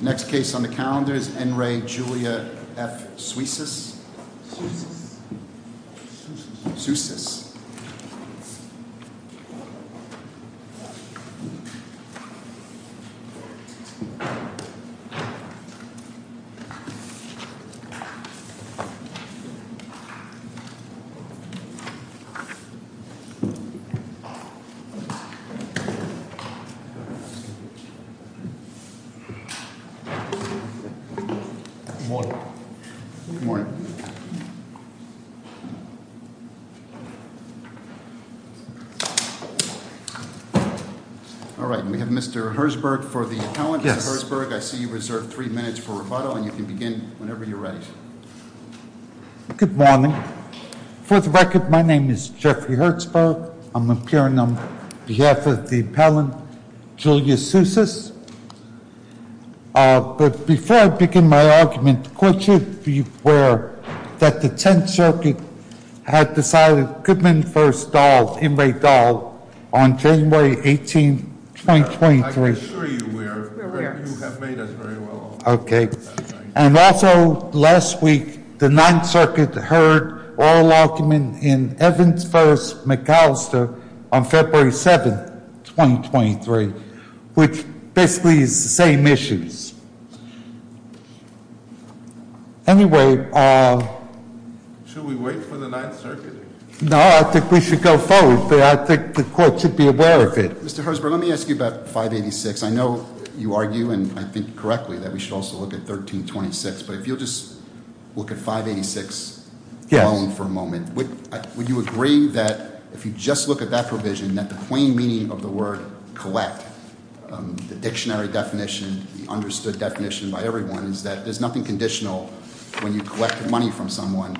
Next case on the calendar is N. Ray Julia F. Soussis Mr. Herzberg Mr. Herzberg, I see you have three minutes for rebuttal. You can begin whenever you are ready. Good morning. For the record, my name is Jeffrey Herzberg. I'm appearing on behalf of the appellant, Julia Soussis. But before I begin my argument, the court should be aware that the Tenth Circuit had decided Goodman v. Dahl, N. Ray Dahl, on January 18, 2023. And also, last week, the Ninth Circuit heard oral argument in Evans v. McAllister on February 7, 2023, which basically is the same issues. Anyway- Should we wait for the Ninth Circuit? No, I think we should go forward, but I think the court should be aware of it. Mr. Herzberg, let me ask you about 586. I know you argue, and I think correctly, that we should also look at 1326, but if you'll just look at 586 alone for a moment. Would you agree that if you just look at that provision, that the plain meaning of the word collect, the dictionary definition, the understood definition by everyone, is that there's nothing conditional when you collect money from someone,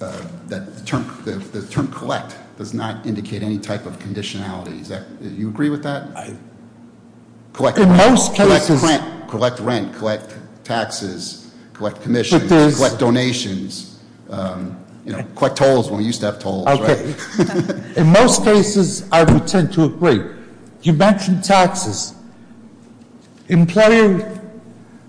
that the term collect does not indicate any type of conditionality. Do you agree with that? In most cases- You know, collect tolls when we used to have tolls, right? In most cases, I would tend to agree. You mentioned taxes. Employer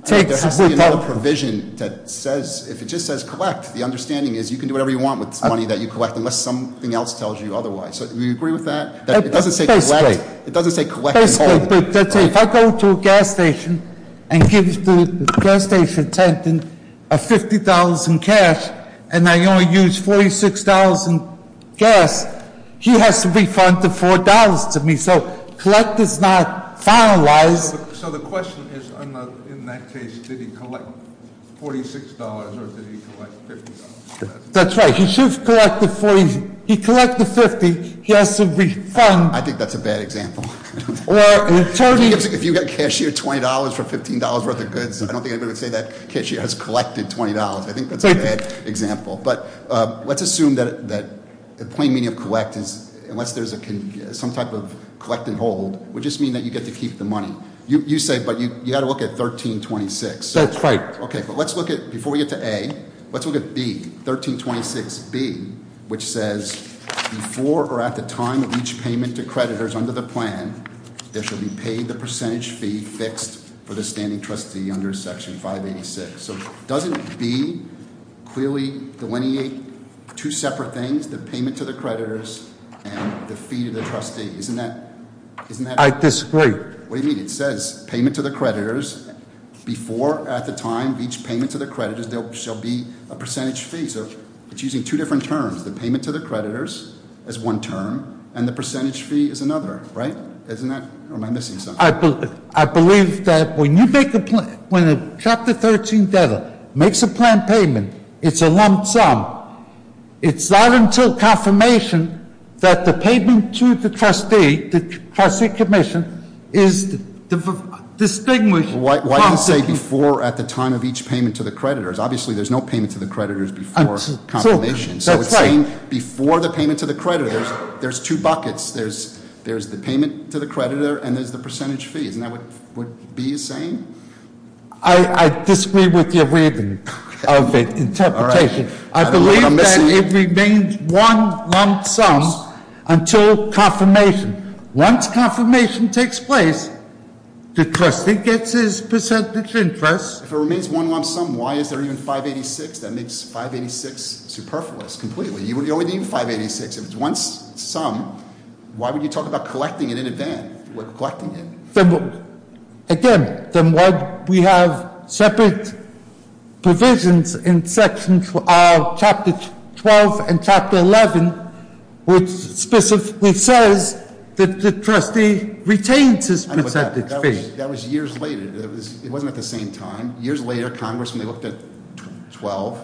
takes without- There has to be another provision that says, if it just says collect, the understanding is you can do whatever you want with the money that you collect unless something else tells you otherwise. Do you agree with that? It doesn't say collect- Basically. If I go to a gas station and give the gas station attendant $50 in cash, and I only use $46 in gas, he has to refund the $4 to me. So, collect is not finalized. So the question is, in that case, did he collect $46 or did he collect $50? That's right. He should collect the 40. He collected 50. He has to refund- I think that's a bad example. If you got cashier $20 for $15 worth of goods, I don't think anybody would say that cashier has collected $20. I think that's a bad example. But let's assume that the plain meaning of collect is, unless there's some type of collect and hold, would just mean that you get to keep the money. You said, but you got to look at 1326. That's right. Okay, but let's look at, before we get to A, let's look at B. Which says, before or at the time of each payment to creditors under the plan, there shall be paid the percentage fee fixed for the standing trustee under section 586. So doesn't B clearly delineate two separate things, the payment to the creditors and the fee to the trustee? Isn't that- I disagree. What do you mean? It says payment to the creditors before or at the time of each payment to the creditors, there shall be a percentage fee. It's using two different terms, the payment to the creditors is one term, and the percentage fee is another, right? Isn't that, or am I missing something? I believe that when you make a plan, when a Chapter 13 debtor makes a plan payment, it's a lump sum. It's not until confirmation that the payment to the trustee, the trustee commission, is distinguished- Why do you say before or at the time of each payment to the creditors? Obviously, there's no payment to the creditors before confirmation. So it's saying before the payment to the creditors, there's two buckets. There's the payment to the creditor and there's the percentage fees. Isn't that what B is saying? I disagree with your reading of the interpretation. I believe that it remains one lump sum until confirmation. Once confirmation takes place, the trustee gets his percentage interest. If it remains one lump sum, why is there even 586? That makes 586 superfluous completely. You would only need 586. If it's one sum, why would you talk about collecting it in advance? We're collecting it. Again, then what we have separate provisions in sections of Chapter 12 and Chapter 11, which specifically says that the trustee retains his percentage fee. That was years later. It wasn't at the same time. Years later, Congress, when they looked at 12-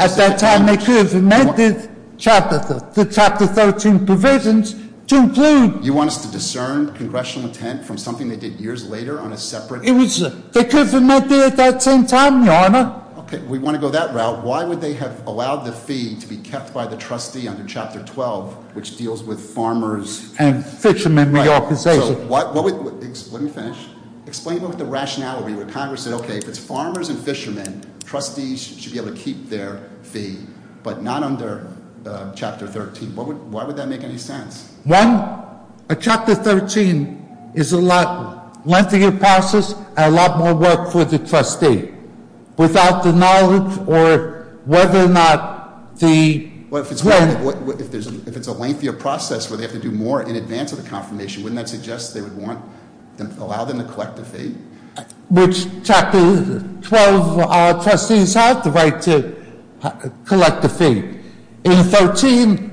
At that time, they could have amended the Chapter 13 provisions to include- You want us to discern congressional intent from something they did years later on a separate- They could have amended it at that same time, Your Honor. Okay, we want to go that route. Why would they have allowed the fee to be kept by the trustee under Chapter 12, which deals with farmers- And fishermen reorganization. Let me finish. Explain a little bit the rationality where Congress said, okay, if it's farmers and fishermen, trustees should be able to keep their fee, but not under Chapter 13. Why would that make any sense? One, Chapter 13 is a lot lengthier process and a lot more work for the trustee. Without the knowledge or whether or not the- Well, if it's a lengthier process where they have to do more in advance of the confirmation, wouldn't that suggest they would want, allow them to collect the fee? Which Chapter 12 trustees have the right to collect the fee. In 13,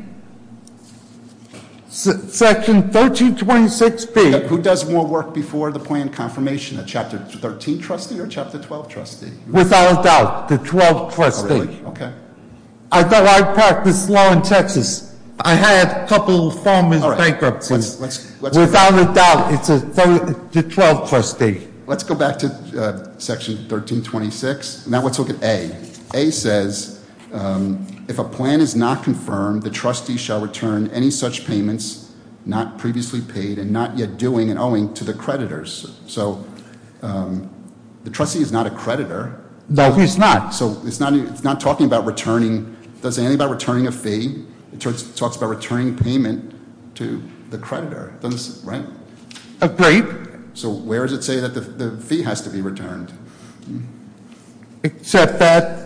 Section 1326B- Who does more work before the plan confirmation, a Chapter 13 trustee or a Chapter 12 trustee? Without a doubt, the 12 trustee. Oh, really? Okay. I thought I practiced law in Texas. I had a couple farmers bankrupt. Without a doubt, it's a 12 trustee. Let's go back to Section 1326. Now, let's look at A. A says, if a plan is not confirmed, the trustee shall return any such payments not previously paid and not yet doing and owing to the creditors. So, the trustee is not a creditor. No, he's not. So, it's not talking about returning, it's not saying anything about returning a fee. It talks about returning payment to the creditor, right? Agreed. So, where does it say that the fee has to be returned? Except that-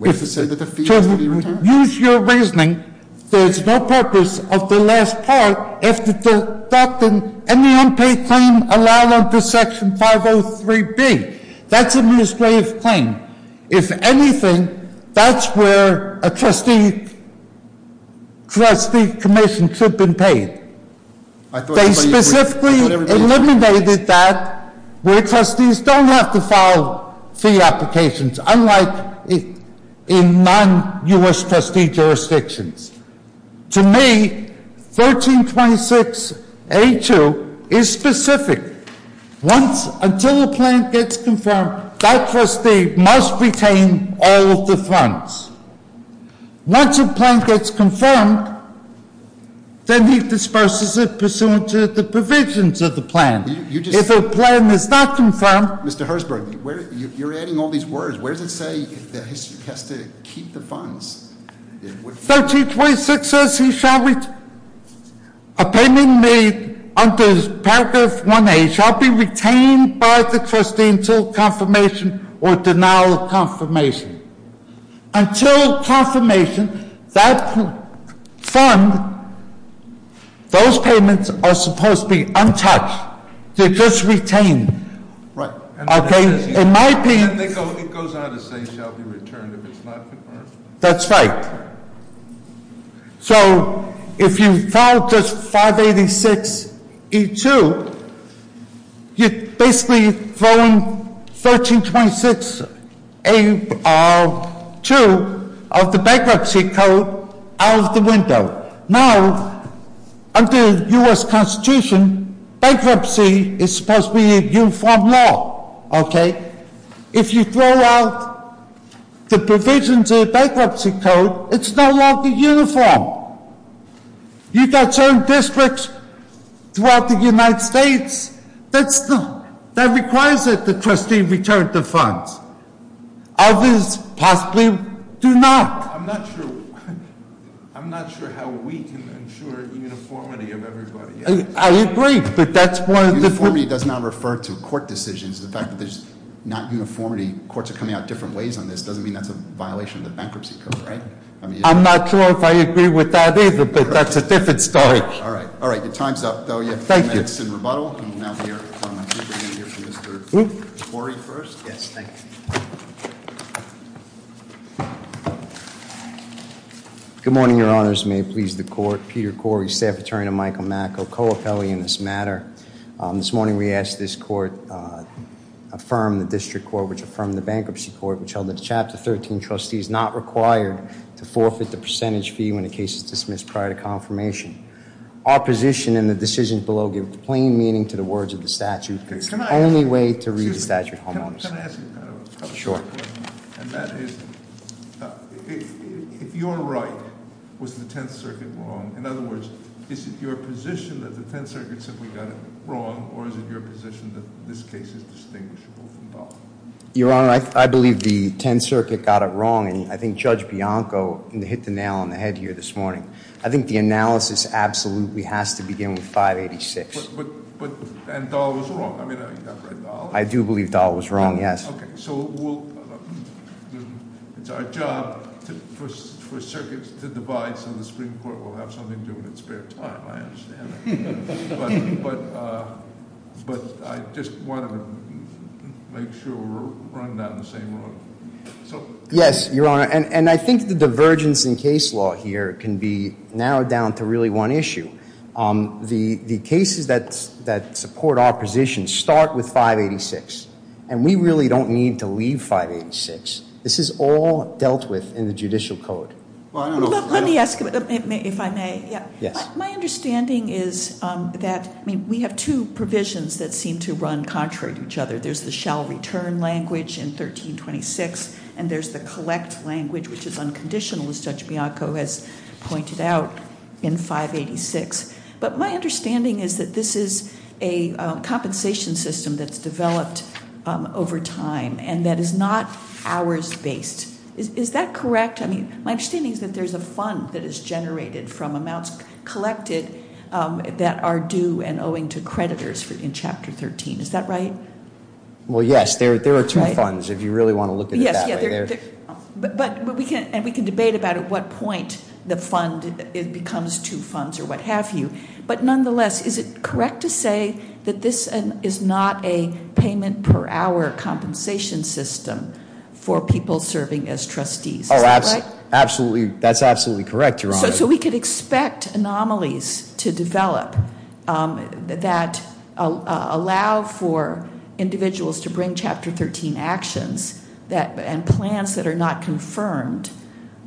Use your reasoning. There's no purpose of the last part if the deducting any unpaid claim allowed under Section 503B. That's a misgrave claim. If anything, that's where a trustee commission should have been paid. They specifically eliminated that where trustees don't have to file fee applications. Unlike in non-US trustee jurisdictions. To me, 1326A2 is specific. Until a plan gets confirmed, that trustee must retain all of the funds. Once a plan gets confirmed, then he disperses it pursuant to the provisions of the plan. If a plan is not confirmed- Where does it say if the trustee has to keep the funds? 1326 says he shall retain. A payment made under paragraph 1A shall be retained by the trustee until confirmation or denial of confirmation. Until confirmation, that fund, those payments are supposed to be untouched. They're just retained. Right. Okay, in my opinion- It goes on to say shall be returned if it's not confirmed. That's right. So, if you file just 586E2, you're basically throwing 1326A2 of the bankruptcy code out of the window. Now, under the US Constitution, bankruptcy is supposed to be a uniform law, okay? If you throw out the provisions of the bankruptcy code, it's no longer uniform. You've got certain districts throughout the United States that requires that the trustee return the funds. Others possibly do not. I'm not sure how we can ensure uniformity of everybody. I agree, but that's one of the- Uniformity does not refer to court decisions. The fact that there's not uniformity, courts are coming out different ways on this, doesn't mean that's a violation of the bankruptcy code, right? I'm not sure if I agree with that either, but that's a different story. All right. Your time's up, though. Thank you. Okay, it's in rebuttal, and we'll now hear from Mr. Corey first. Yes, thank you. Good morning, your honors. May it please the court. Peter Corey, Staff Attorney to Michael Macko, co-appelling in this matter. This morning, we asked this court to affirm the district court, which affirmed the bankruptcy court, which held that the Chapter 13 trustee is not required to forfeit the percentage fee when a case is dismissed prior to confirmation. Our position and the decisions below give plain meaning to the words of the statute. It's the only way to read the statute. Can I ask you kind of a question? Sure. And that is, if you're right, was the Tenth Circuit wrong? In other words, is it your position that the Tenth Circuit simply got it wrong, or is it your position that this case is distinguishable from both? Your Honor, I believe the Tenth Circuit got it wrong, and I think Judge Bianco hit the nail on the head here this morning. I think the analysis absolutely has to begin with 586. But, and Dahl was wrong? I mean, have you not read Dahl? I do believe Dahl was wrong, yes. Okay, so it's our job for circuits to divide, so the Supreme Court will have something to do in its spare time. I understand that. But I just wanted to make sure we're running down the same road. Yes, Your Honor, and I think the divergence in case law here can be narrowed down to really one issue. The cases that support our position start with 586, and we really don't need to leave 586. This is all dealt with in the judicial code. Let me ask, if I may. Yes. My understanding is that, I mean, we have two provisions that seem to run contrary to each other. There's the shall return language in 1326, and there's the collect language, which is unconditional, as Judge Bianco has pointed out, in 586. But my understanding is that this is a compensation system that's developed over time and that is not hours-based. Is that correct? I mean, my understanding is that there's a fund that is generated from amounts collected that are due and owing to creditors in Chapter 13. Is that right? Well, yes. There are two funds, if you really want to look at it that way. But we can debate about at what point the fund becomes two funds or what have you. But nonetheless, is it correct to say that this is not a payment per hour compensation system for people serving as trustees? That's absolutely correct, Your Honor. So we could expect anomalies to develop that allow for individuals to bring Chapter 13 actions and plans that are not confirmed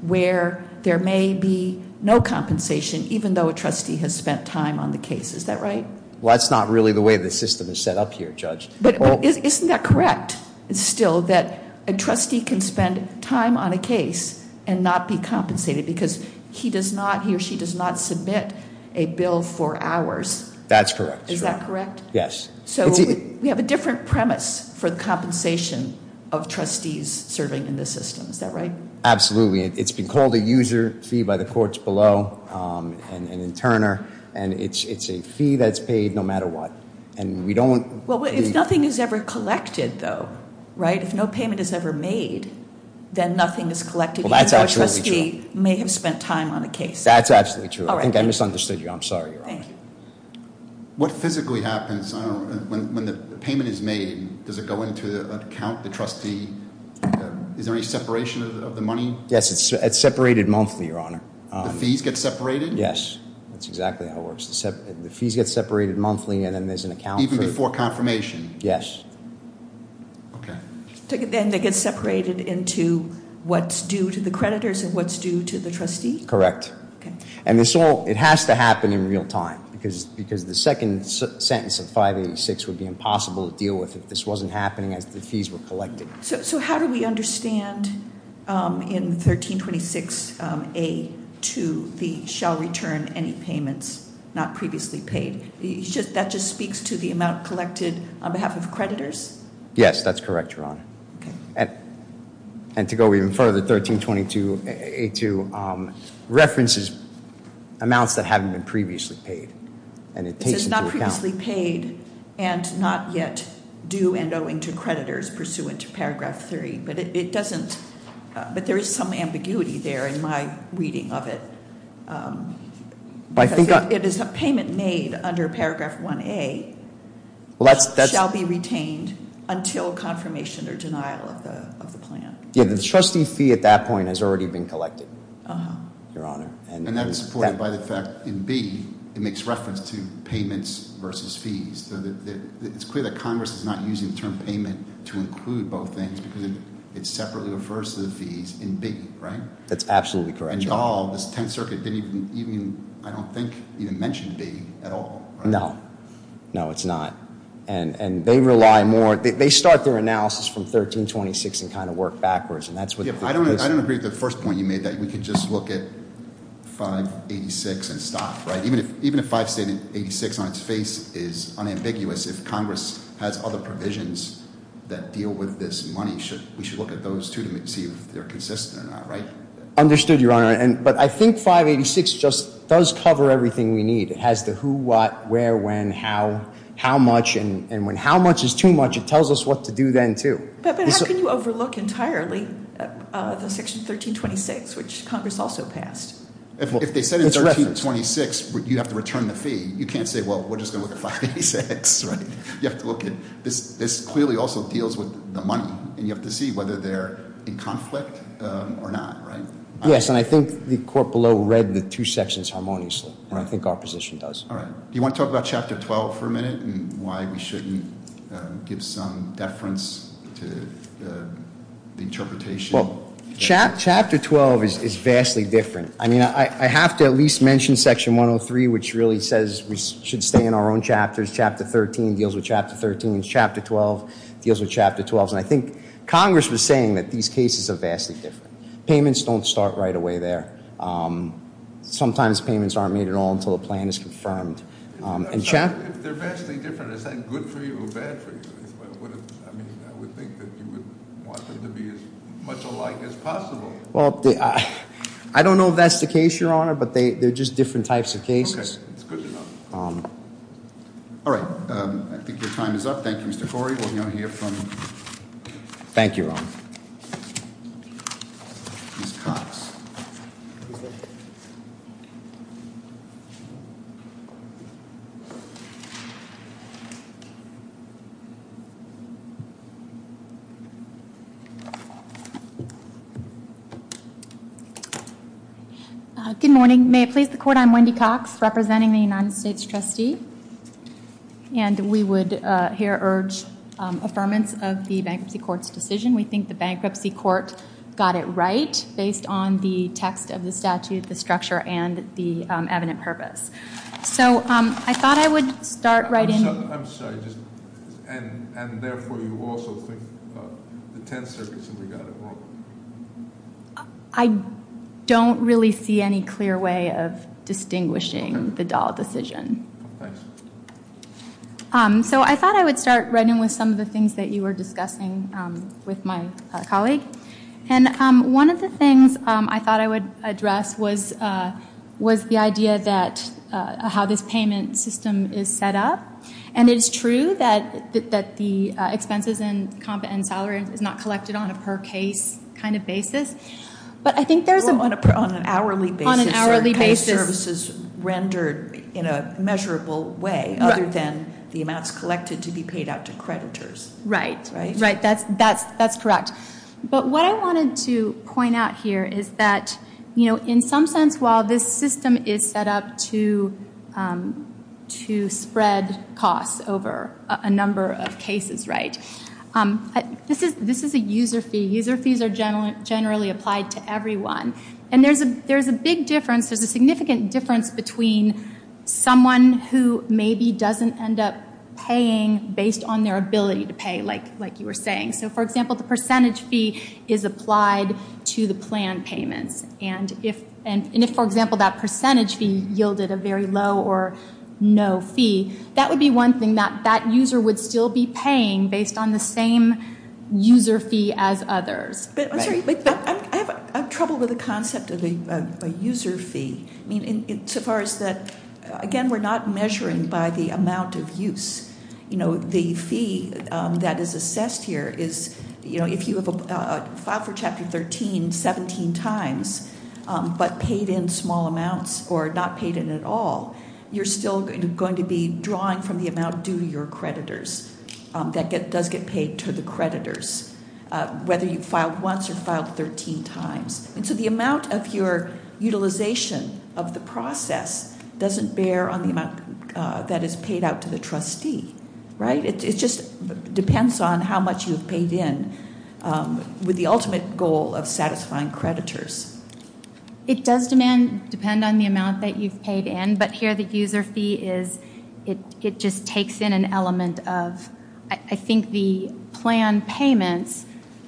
where there may be no compensation, even though a trustee has spent time on the case. Is that right? Well, that's not really the way the system is set up here, Judge. But isn't that correct, still, that a trustee can spend time on a case and not be compensated because he or she does not submit a bill for hours? That's correct. Is that correct? Yes. So we have a different premise for the compensation of trustees serving in this system. Is that right? Absolutely. It's been called a user fee by the courts below and in Turner. And it's a fee that's paid no matter what. If nothing is ever collected, though, right? If no payment is ever made, then nothing is collected, even though a trustee may have spent time on a case. That's absolutely true. I think I misunderstood you. I'm sorry, Your Honor. Thank you. What physically happens when the payment is made? Does it go into an account? The trustee? Is there any separation of the money? Yes, it's separated monthly, Your Honor. The fees get separated? Yes, that's exactly how it works. The fees get separated monthly and then there's an account for it. Even before confirmation? Yes. Okay. And it gets separated into what's due to the creditors and what's due to the trustee? Correct. Okay. And this all, it has to happen in real time because the second sentence of 586 would be impossible to deal with if this wasn't happening as the fees were collected. So how do we understand in 1326A2 the shall return any payments not previously paid? That just speaks to the amount collected on behalf of creditors? Yes, that's correct, Your Honor. Okay. And to go even further, 1322A2 references amounts that haven't been previously paid. This is not previously paid and not yet due and owing to creditors pursuant to Paragraph 3. But it doesn't, but there is some ambiguity there in my reading of it. It is a payment made under Paragraph 1A shall be retained until confirmation or denial of the plan. Yeah, the trustee fee at that point has already been collected, Your Honor. And that is supported by the fact in B, it makes reference to payments versus fees. So it's clear that Congress is not using the term payment to include both things because it separately refers to the fees in B, right? That's absolutely correct, Your Honor. And all, this Tenth Circuit didn't even, I don't think, even mention B at all, right? No. No, it's not. And they rely more, they start their analysis from 1326 and kind of work backwards. I don't agree with the first point you made that we could just look at 586 and stop, right? Even if 586 on its face is unambiguous, if Congress has other provisions that deal with this money, we should look at those too to see if they're consistent or not, right? Understood, Your Honor. But I think 586 just does cover everything we need. It has the who, what, where, when, how, how much, and when how much is too much, it tells us what to do then too. But how can you overlook entirely the section 1326, which Congress also passed? If they said in 1326 you'd have to return the fee, you can't say, well, we're just going to look at 586, right? You have to look at, this clearly also deals with the money, and you have to see whether they're in conflict or not, right? Yes, and I think the court below read the two sections harmoniously, and I think our position does. All right. Do you want to talk about Chapter 12 for a minute and why we shouldn't give some deference to the interpretation? Well, Chapter 12 is vastly different. I mean, I have to at least mention Section 103, which really says we should stay in our own chapters. Chapter 13 deals with Chapter 13. Chapter 12 deals with Chapter 12. And I think Congress was saying that these cases are vastly different. Payments don't start right away there. Sometimes payments aren't made at all until a plan is confirmed. They're vastly different. Is that good for you or bad for you? I mean, I would think that you would want them to be as much alike as possible. Well, I don't know if that's the case, Your Honor, but they're just different types of cases. Okay. It's good to know. All right. I think your time is up. Thank you, Mr. Corey. We're going to hear from- Thank you, Your Honor. Ms. Cox. Please sit. Good morning. May it please the Court, I'm Wendy Cox, representing the United States Trustee. And we would here urge affirmance of the Bankruptcy Court's decision. We think the Bankruptcy Court got it right based on the text of the statute, the structure, and the evident purpose. So I thought I would start writing- I'm sorry. And therefore you also think the Tenth Circuit should have got it wrong? I don't really see any clear way of distinguishing the Dahl decision. Thanks. So I thought I would start writing with some of the things that you were discussing with my colleague. And one of the things I thought I would address was the idea that how this payment system is set up. And it is true that the expenses and salary is not collected on a per case kind of basis. But I think there's a- Well, on an hourly basis. On an hourly basis. The pay services rendered in a measurable way other than the amounts collected to be paid out to creditors. Right. Right, that's correct. But what I wanted to point out here is that, you know, in some sense while this system is set up to spread costs over a number of cases, right? This is a user fee. User fees are generally applied to everyone. And there's a big difference. There's a significant difference between someone who maybe doesn't end up paying based on their ability to pay, like you were saying. So, for example, the percentage fee is applied to the plan payments. And if, for example, that percentage fee yielded a very low or no fee, that would be one thing that that user would still be paying based on the same user fee as others. Right. I'm sorry, but I have trouble with the concept of a user fee. I mean, so far as that, again, we're not measuring by the amount of use. You know, the fee that is assessed here is, you know, if you have filed for Chapter 13 17 times but paid in small amounts or not paid in at all, you're still going to be drawing from the amount due to your creditors. That does get paid to the creditors. Whether you filed once or filed 13 times. And so the amount of your utilization of the process doesn't bear on the amount that is paid out to the trustee. Right. It just depends on how much you've paid in with the ultimate goal of satisfying creditors. It does depend on the amount that you've paid in. But here the user fee is, it just takes in an element of, I think the plan payments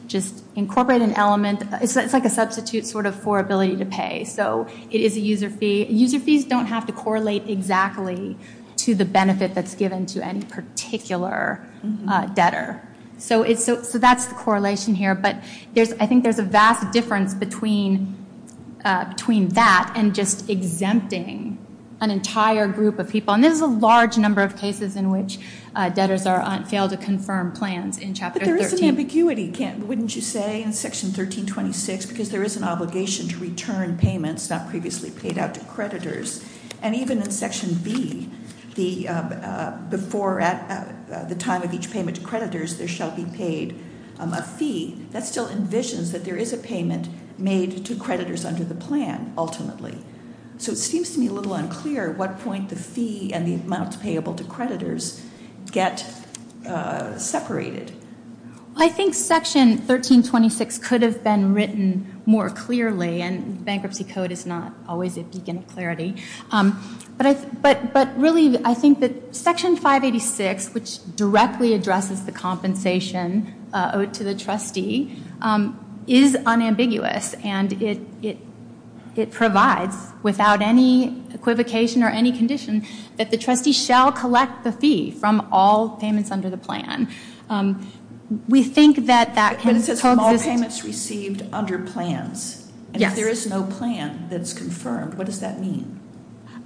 just incorporate an element. It's like a substitute sort of for ability to pay. So it is a user fee. User fees don't have to correlate exactly to the benefit that's given to any particular debtor. So that's the correlation here. But I think there's a vast difference between that and just exempting an entire group of people. And there's a large number of cases in which debtors fail to confirm plans in Chapter 13. But there is an ambiguity, wouldn't you say, in Section 1326, because there is an obligation to return payments not previously paid out to creditors. And even in Section B, before the time of each payment to creditors, there shall be paid a fee. That still envisions that there is a payment made to creditors under the plan ultimately. So it seems to me a little unclear at what point the fee and the amount payable to creditors get separated. I think Section 1326 could have been written more clearly. And bankruptcy code is not always a beacon of clarity. But really, I think that Section 586, which directly addresses the compensation owed to the trustee, is unambiguous. And it provides, without any equivocation or any condition, that the trustee shall collect the fee from all payments under the plan. We think that that can coexist. But it says all payments received under plans. Yes. And if there is no plan that's confirmed, what does that mean?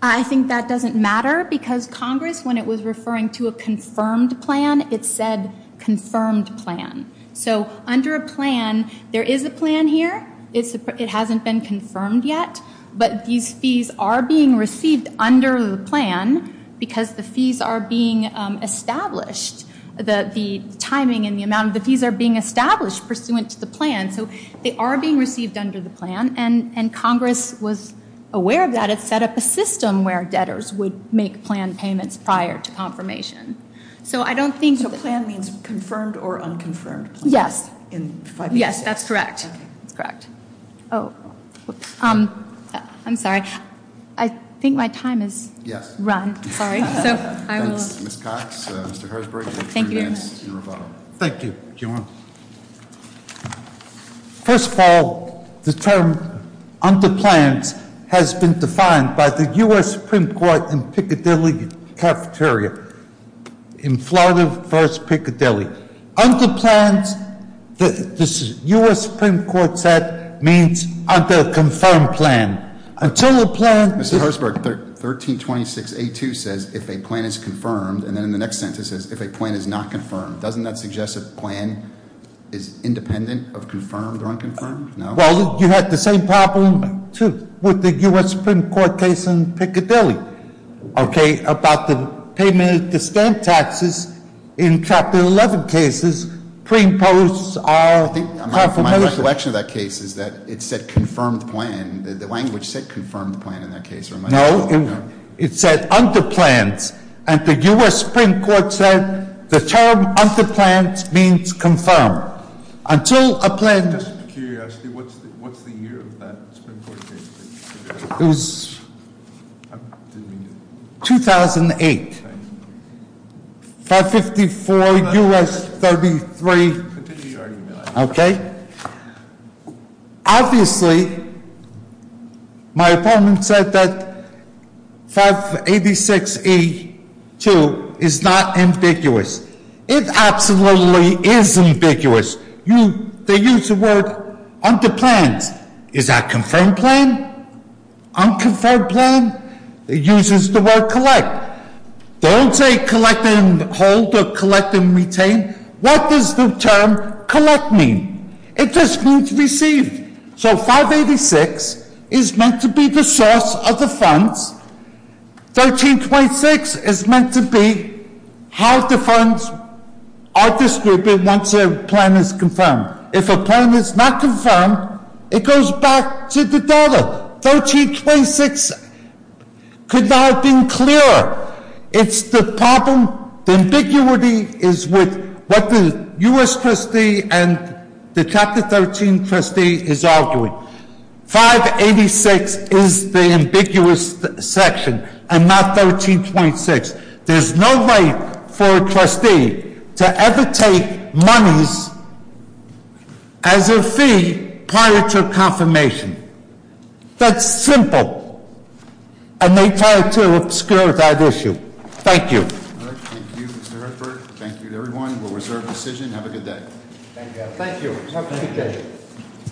I think that doesn't matter because Congress, when it was referring to a confirmed plan, it said confirmed plan. So under a plan, there is a plan here. It hasn't been confirmed yet. But these fees are being received under the plan because the fees are being established. The timing and the amount of the fees are being established pursuant to the plan. So they are being received under the plan. And Congress was aware of that. It set up a system where debtors would make plan payments prior to confirmation. So plan means confirmed or unconfirmed? Yes. In 586? Yes, that's correct. That's correct. I'm sorry. I think my time has run. Sorry. Ms. Cox. Mr. Herzberg. Thank you. Thank you. First of all, the term under plans has been defined by the U.S. Supreme Court in Piccadilly Cafeteria. In Florida versus Piccadilly. Under plans, the U.S. Supreme Court said means under a confirmed plan. Until a plan- Mr. Herzberg, 1326A2 says if a plan is confirmed. And then in the next sentence, it says if a plan is not confirmed. Doesn't that suggest a plan is independent of confirmed or unconfirmed? No? Well, you had the same problem, too, with the U.S. Supreme Court case in Piccadilly. Okay, about the payment of the stamp taxes in Chapter 11 cases, pre-imposed are- I think my recollection of that case is that it said confirmed plan. The language said confirmed plan in that case. No, it said under plans. And the U.S. Supreme Court said the term under plans means confirmed. Until a plan- Just out of curiosity, what's the year of that Supreme Court case? It was 2008. 554 U.S. 33- Okay. Obviously, my opponent said that 586E2 is not ambiguous. It absolutely is ambiguous. They used the word under plans. Is that confirmed plan? Unconfirmed plan? It uses the word collect. Don't say collect and hold or collect and retain. What does the term collect mean? It just means receive. So 586 is meant to be the source of the funds. 1326 is meant to be how the funds are distributed once a plan is confirmed. If a plan is not confirmed, it goes back to the dollar. 1326 could not have been clearer. It's the problem. The ambiguity is with what the U.S. trustee and the Chapter 13 trustee is arguing. 586 is the ambiguous section and not 1326. There's no way for a trustee to ever take monies as a fee prior to confirmation. That's simple. And they tried to obscure that issue. Thank you. Thank you, Mr. Hertzberg. Thank you to everyone. We'll reserve decision. Have a good day. Thank you. Have a good day.